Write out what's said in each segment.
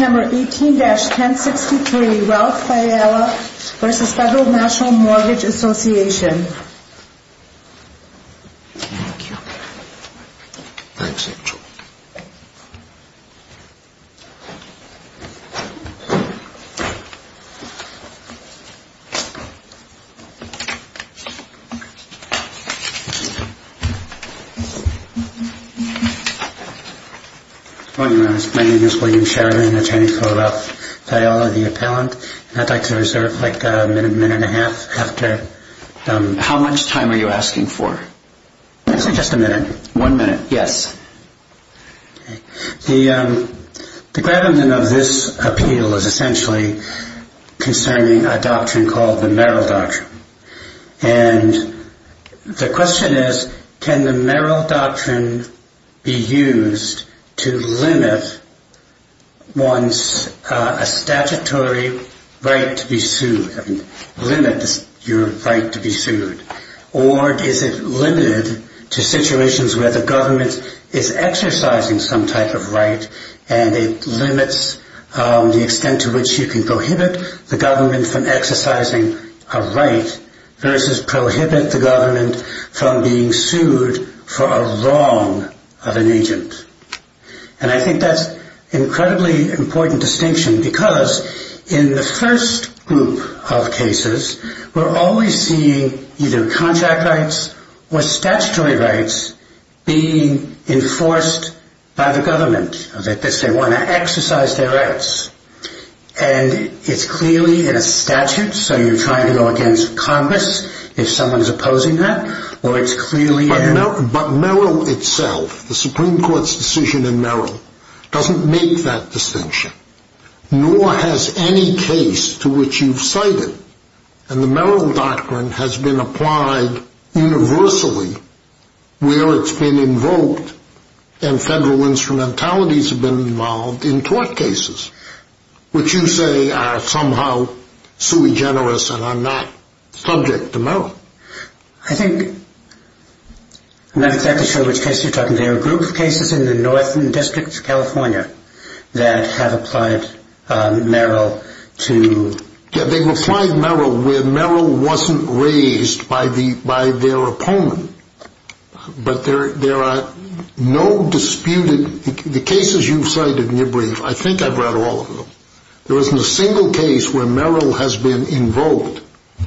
18-1063 Ralph Fiella v. Fed. Natl Mortgage Assoc. 18-1063 Ralph Fiella v. Fed. Natl Mortgage Assoc. 18-1063 Ralph Fiella v. Fed. Natl Mortgage Assoc. How much time are you asking for? Just a minute. One minute. Yes. Can the Merrill Doctrine be used to limit one's statutory right to be sued? Or is it limited to situations where the government is exercising some type of right and it limits the extent to which you can prohibit the government from exercising a right versus prohibit the government from being sued for a wrong of an agent? And I think that's an incredibly important distinction because in the first group of cases, we're always seeing either contract rights or statutory rights being enforced by the government. That they want to exercise their rights. And it's clearly in a statute, so you're trying to go against Congress if someone is opposing that. But Merrill itself, the Supreme Court's decision in Merrill, doesn't make that distinction, nor has any case to which you've cited. And the Merrill Doctrine has been applied universally where it's been invoked and federal instrumentalities have been involved in tort cases, which you say are somehow sui generis and are not subject to Merrill. I think I'm not exactly sure which case you're talking about. There are a group of cases in the Northern District of California that have applied Merrill to... Yeah, they've applied Merrill where Merrill wasn't raised by their opponent. But there are no disputed... The cases you've cited in your brief, I think I've read all of them. There isn't a single case where Merrill has been invoked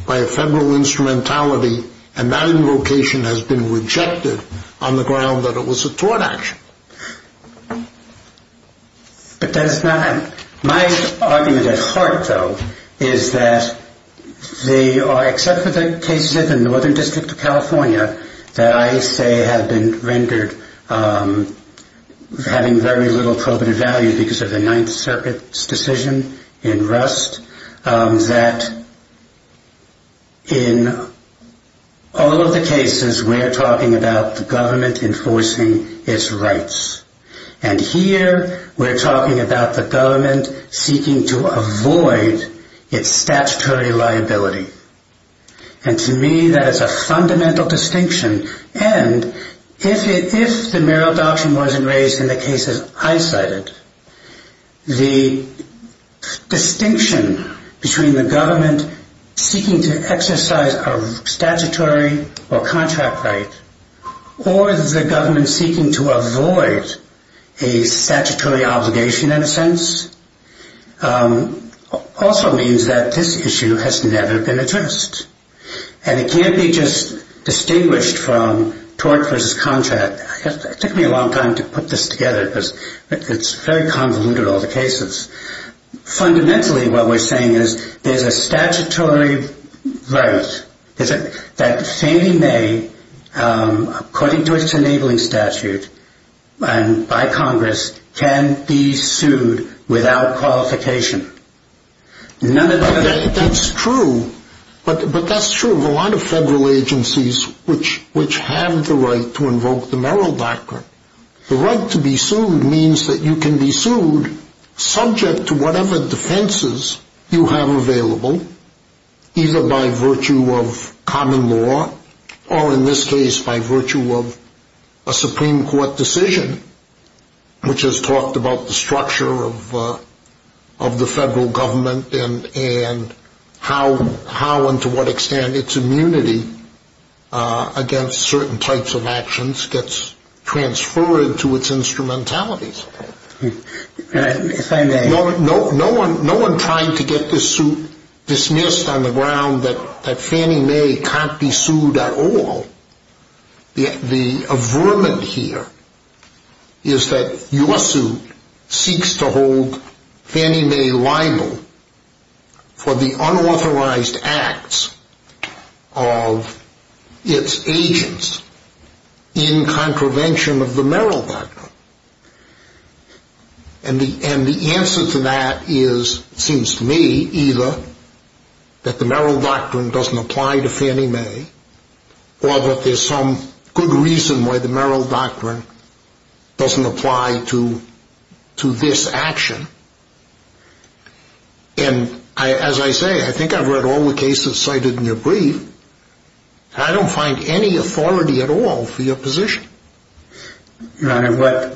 by a federal instrumentality and that invocation has been rejected on the ground that it was a tort action. My argument at heart, though, is that except for the cases in the Northern District of California that I say have been rendered having very little probative value because of the Ninth Circuit's decision in Rust, that in all of the cases we're talking about the government enforcing its rights. And here we're talking about the government seeking to avoid its statutory liability. And to me that is a fundamental distinction. And if the Merrill Doctrine wasn't raised in the cases I cited, the distinction between the government seeking to exercise a statutory or contract right, or the government seeking to avoid a statutory obligation in a sense, also means that this issue has never been addressed. And it can't be just distinguished from tort versus contract. It took me a long time to put this together because it's very convoluted, all the cases. Fundamentally, what we're saying is there's a statutory right that Fannie Mae, according to its enabling statute by Congress, can be sued without qualification. That's true, but that's true of a lot of federal agencies which have the right to invoke the Merrill Doctrine. The right to be sued means that you can be sued subject to whatever defenses you have available, either by virtue of common law, or in this case by virtue of a Supreme Court decision, which has talked about the structure of the federal government and how and to what extent its immunity against certain types of actions gets transferred to its instrumentalities. Can I explain that? No one trying to get this suit dismissed on the ground that Fannie Mae can't be sued at all. The averment here is that your suit seeks to hold Fannie Mae liable for the unauthorized acts of its agents in contravention of the Merrill Doctrine. And the answer to that seems to me either that the Merrill Doctrine doesn't apply to Fannie Mae or that there's some good reason why the Merrill Doctrine doesn't apply to this action. And as I say, I think I've read all the cases cited in your brief, and I don't find any authority at all for your position. Your Honor,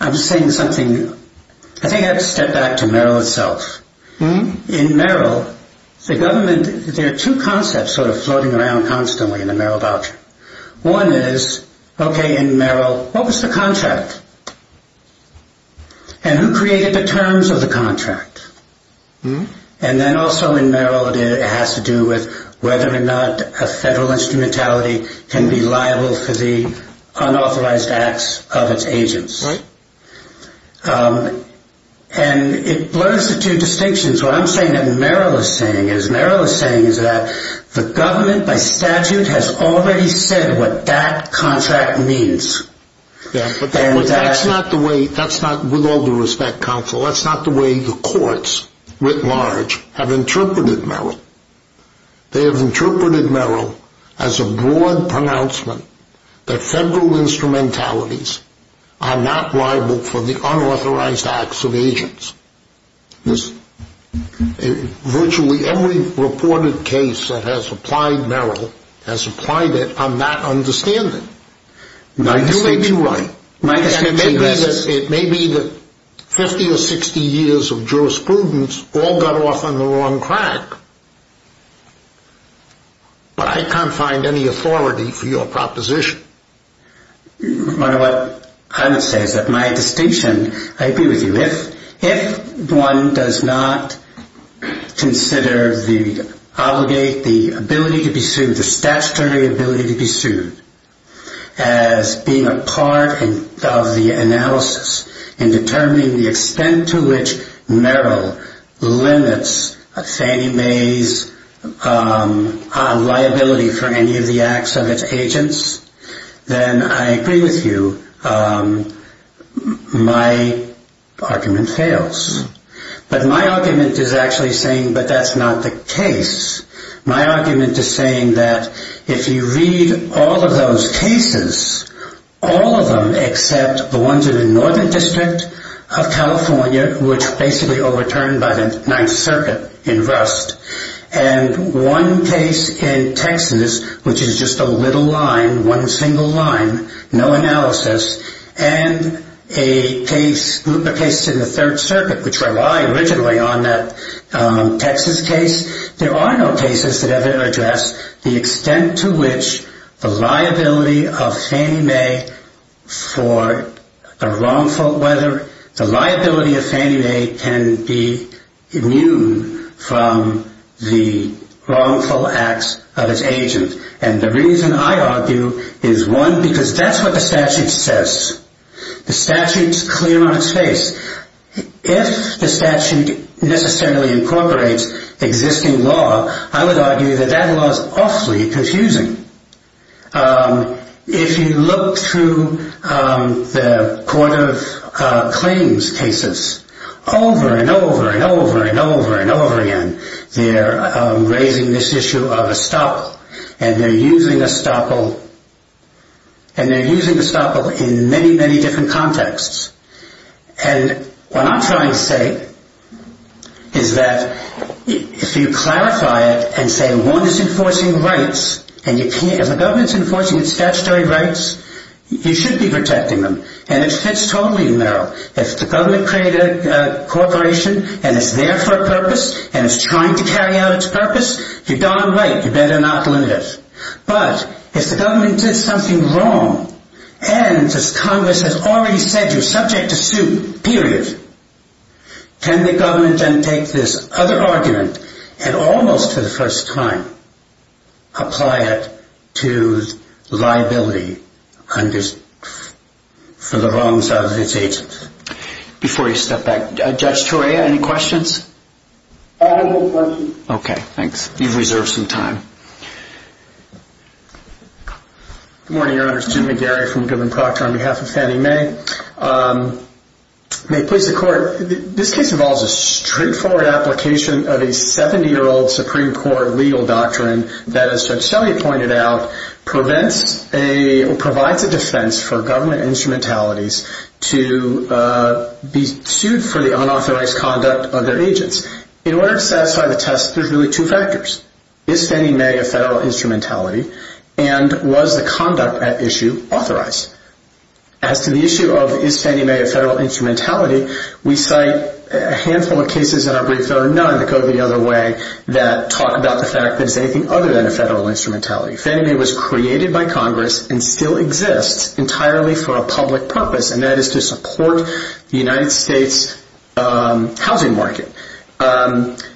I think I'd step back to Merrill itself. In Merrill, there are two concepts sort of floating around constantly in the Merrill Doctrine. One is, okay, in Merrill, what was the contract? And who created the terms of the contract? And then also in Merrill, it has to do with whether or not a federal instrumentality can be liable for the unauthorized acts of its agents. And it blurs the two distinctions. What I'm saying that Merrill is saying is Merrill is saying is that the government by statute has already said what that contract means. That's not the way, with all due respect, counsel, that's not the way the courts writ large have interpreted Merrill. They have interpreted Merrill as a broad pronouncement that federal instrumentalities are not liable for the unauthorized acts of agents. Virtually every reported case that has applied Merrill has applied it on that understanding. Now, you may be right. It may be that 50 or 60 years of jurisprudence all got off on the wrong track, but I can't find any authority for your proposition. Your Honor, what I would say is that my distinction, I agree with you. If one does not consider the obligate, the ability to be sued, the statutory ability to be sued as being a part of the analysis in determining the extent to which Merrill limits Fannie Mae's liability for any of the acts of its agents, then I agree with you, my argument fails. But my argument is actually saying, but that's not the case. My argument is saying that if you read all of those cases, all of them except the ones in the Northern District of California, which basically overturned by the Ninth Circuit in Rust, and one case in Texas, which is just a little line, one single line, no analysis, and a case in the Third Circuit, which relied originally on that Texas case, there are no cases that ever address the extent to which the liability of Fannie Mae can be immune from the wrongful acts of its agent. And the reason I argue is, one, because that's what the statute says. The statute's clear on its face. If the statute necessarily incorporates existing law, I would argue that that law is awfully confusing. If you look through the Court of Claims cases over and over and over and over and over again, they're raising this issue of estoppel, and they're using estoppel in many, many different contexts. And what I'm trying to say is that if you clarify it and say, one, it's enforcing rights, and if the government's enforcing its statutory rights, you should be protecting them. And it fits totally in there. If the government created a corporation, and it's there for a purpose, and it's trying to carry out its purpose, you're darn right, you better not limit it. But if the government did something wrong, and as Congress has already said, you're subject to suit, period, can the government then take this other argument and almost for the first time apply it to liability for the wrongs of its agents? Before you step back, Judge Torea, any questions? I have no questions. Okay, thanks. You've reserved some time. Good morning, Your Honors. Jim McGarry from Goodman Proctor on behalf of Fannie Mae. May it please the Court. This case involves a straightforward application of a 70-year-old Supreme Court legal doctrine that, as Judge Shelley pointed out, provides a defense for government instrumentalities to be sued for the unauthorized conduct of their agents. In order to satisfy the test, there's really two factors. Is Fannie Mae a federal instrumentality, and was the conduct at issue authorized? As to the issue of is Fannie Mae a federal instrumentality, we cite a handful of cases in our brief that are none that go the other way that talk about the fact that it's anything other than a federal instrumentality. Fannie Mae was created by Congress and still exists entirely for a public purpose, and that is to support the United States housing market.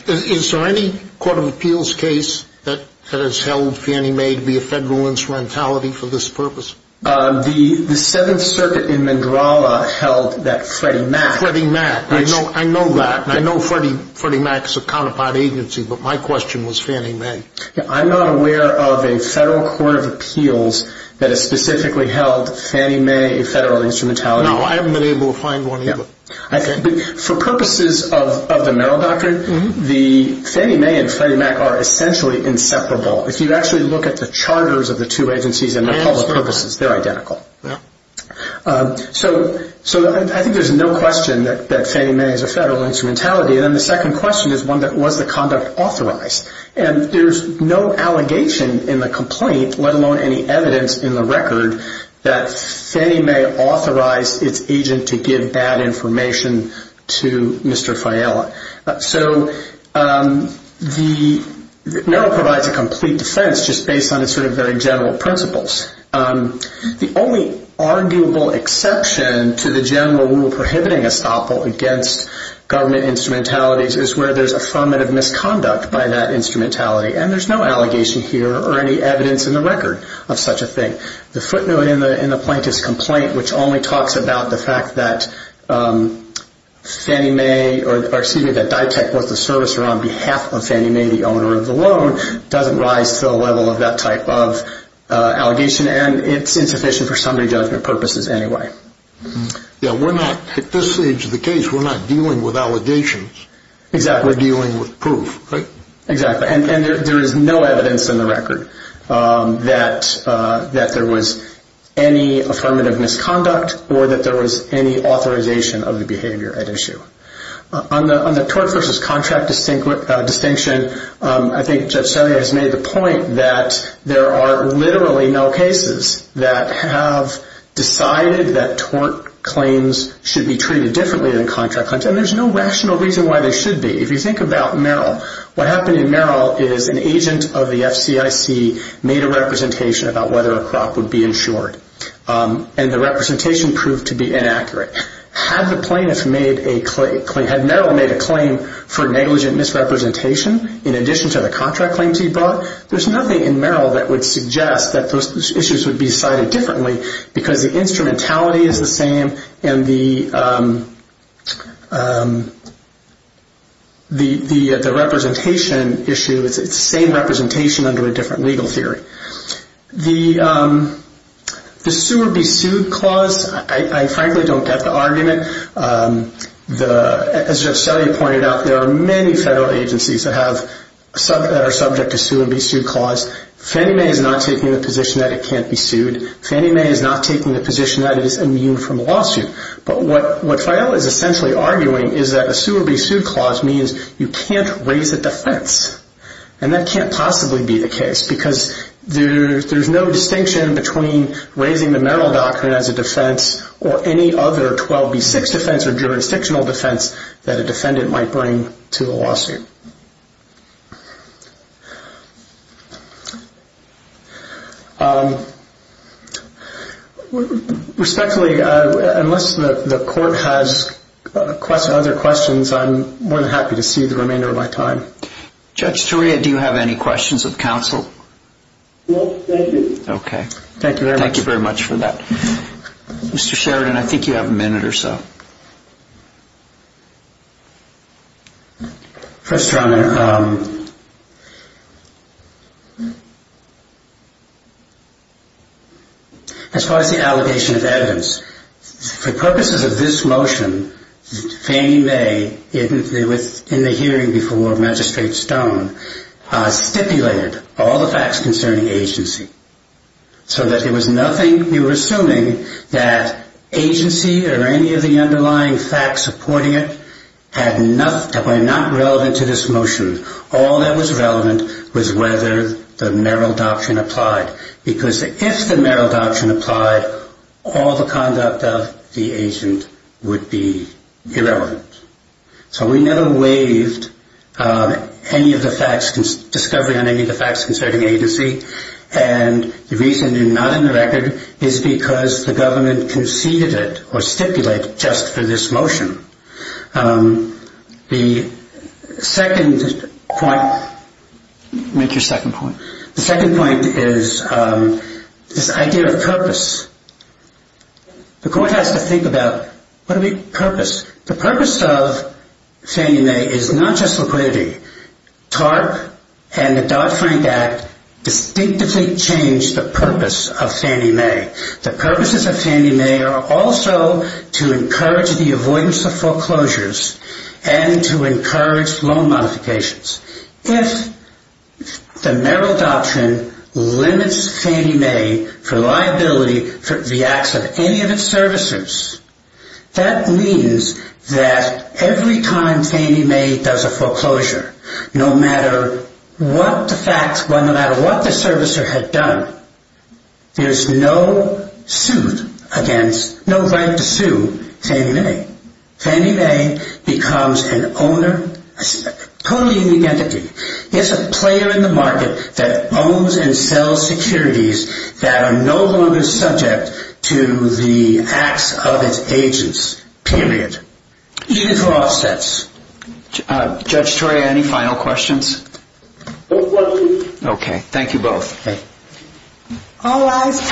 Is there any Court of Appeals case that has held Fannie Mae to be a federal instrumentality for this purpose? The Seventh Circuit in Mandralla held that Freddie Mac... Freddie Mac, I know that. I know Freddie Mac is a counterpart agency, but my question was Fannie Mae. I'm not aware of a federal Court of Appeals that has specifically held Fannie Mae a federal instrumentality. No, I haven't been able to find one either. For purposes of the Merrill Doctrine, Fannie Mae and Freddie Mac are essentially inseparable. If you actually look at the charters of the two agencies and the public purposes, they're identical. I think there's no question that Fannie Mae is a federal instrumentality. Then the second question is, was the conduct authorized? There's no allegation in the complaint, let alone any evidence in the record, that Fannie Mae authorized its agent to give bad information to Mr. Fiella. The Merrill provides a complete defense just based on its very general principles. The only arguable exception to the general rule prohibiting estoppel against government instrumentalities is where there's affirmative misconduct by that instrumentality. There's no allegation here or any evidence in the record of such a thing. The footnote in the plaintiff's complaint, which only talks about the fact that Ditech was the servicer on behalf of Fannie Mae, the owner of the loan, doesn't rise to the level of that type of allegation. It's insufficient for summary judgment purposes anyway. At this stage of the case, we're not dealing with allegations. We're dealing with proof. Exactly. There is no evidence in the record that there was any affirmative misconduct or that there was any authorization of the behavior at issue. On the tort versus contract distinction, I think Judge Sarnia has made the point that there are literally no cases that have decided that tort claims should be treated differently than contract claims. There's no rational reason why they should be. If you think about Merrill, what happened in Merrill is an agent of the FCIC made a representation about whether a crop would be insured, and the representation proved to be inaccurate. Had Merrill made a claim for negligent misrepresentation in addition to the contract claims he brought, there's nothing in Merrill that would suggest that those issues would be decided differently because the instrumentality is the same and the representation issue is the same representation under a different legal theory. The sue or be sued clause, I frankly don't get the argument. As Judge Sarnia pointed out, there are many federal agencies that are subject to sue or be sued clause. Fannie Mae is not taking the position that it can't be sued. Fannie Mae is not taking the position that it is immune from a lawsuit. But what Fael is essentially arguing is that a sue or be sued clause means you can't raise a defense, and that can't possibly be the case because there's no distinction between raising the Merrill Doctrine as a defense or any other 12B6 defense or jurisdictional defense that a defendant might bring to a lawsuit. Respectfully, unless the court has other questions, I'm more than happy to cede the remainder of my time. Judge Sarnia, do you have any questions of counsel? No, thank you. Okay. Thank you very much. Thank you very much for that. Mr. Sheridan, I think you have a minute or so. First, Your Honor, as far as the allegation of evidence, for purposes of this motion, Fannie Mae, in the hearing before Magistrate Stone, stipulated all the facts concerning agency. So that there was nothing, we were assuming that agency or any of the underlying facts supporting it were not relevant to this motion. All that was relevant was whether the Merrill Doctrine applied. Because if the Merrill Doctrine applied, all the conduct of the agent would be irrelevant. So we never waived any of the facts, discovery on any of the facts concerning agency. And the reason they're not in the record is because the government conceded it or stipulated it just for this motion. The second point, make your second point, the second point is this idea of purpose. The court has to think about, what is the purpose? The purpose of Fannie Mae is not just liquidity. TARP and the Dodd-Frank Act distinctively change the purpose of Fannie Mae. The purposes of Fannie Mae are also to encourage the avoidance of foreclosures and to encourage loan modifications. If the Merrill Doctrine limits Fannie Mae for liability for the acts of any of its servicers, that means that every time Fannie Mae does a foreclosure, no matter what the fact, no matter what the servicer had done, there's no suit against, no right to sue Fannie Mae. Fannie Mae becomes an owner, a co-leading entity. It's a player in the market that owns and sells securities that are no longer subject to the acts of its agents, period. Even for offsets. Judge Toria, any final questions? No questions. Okay, thank you both.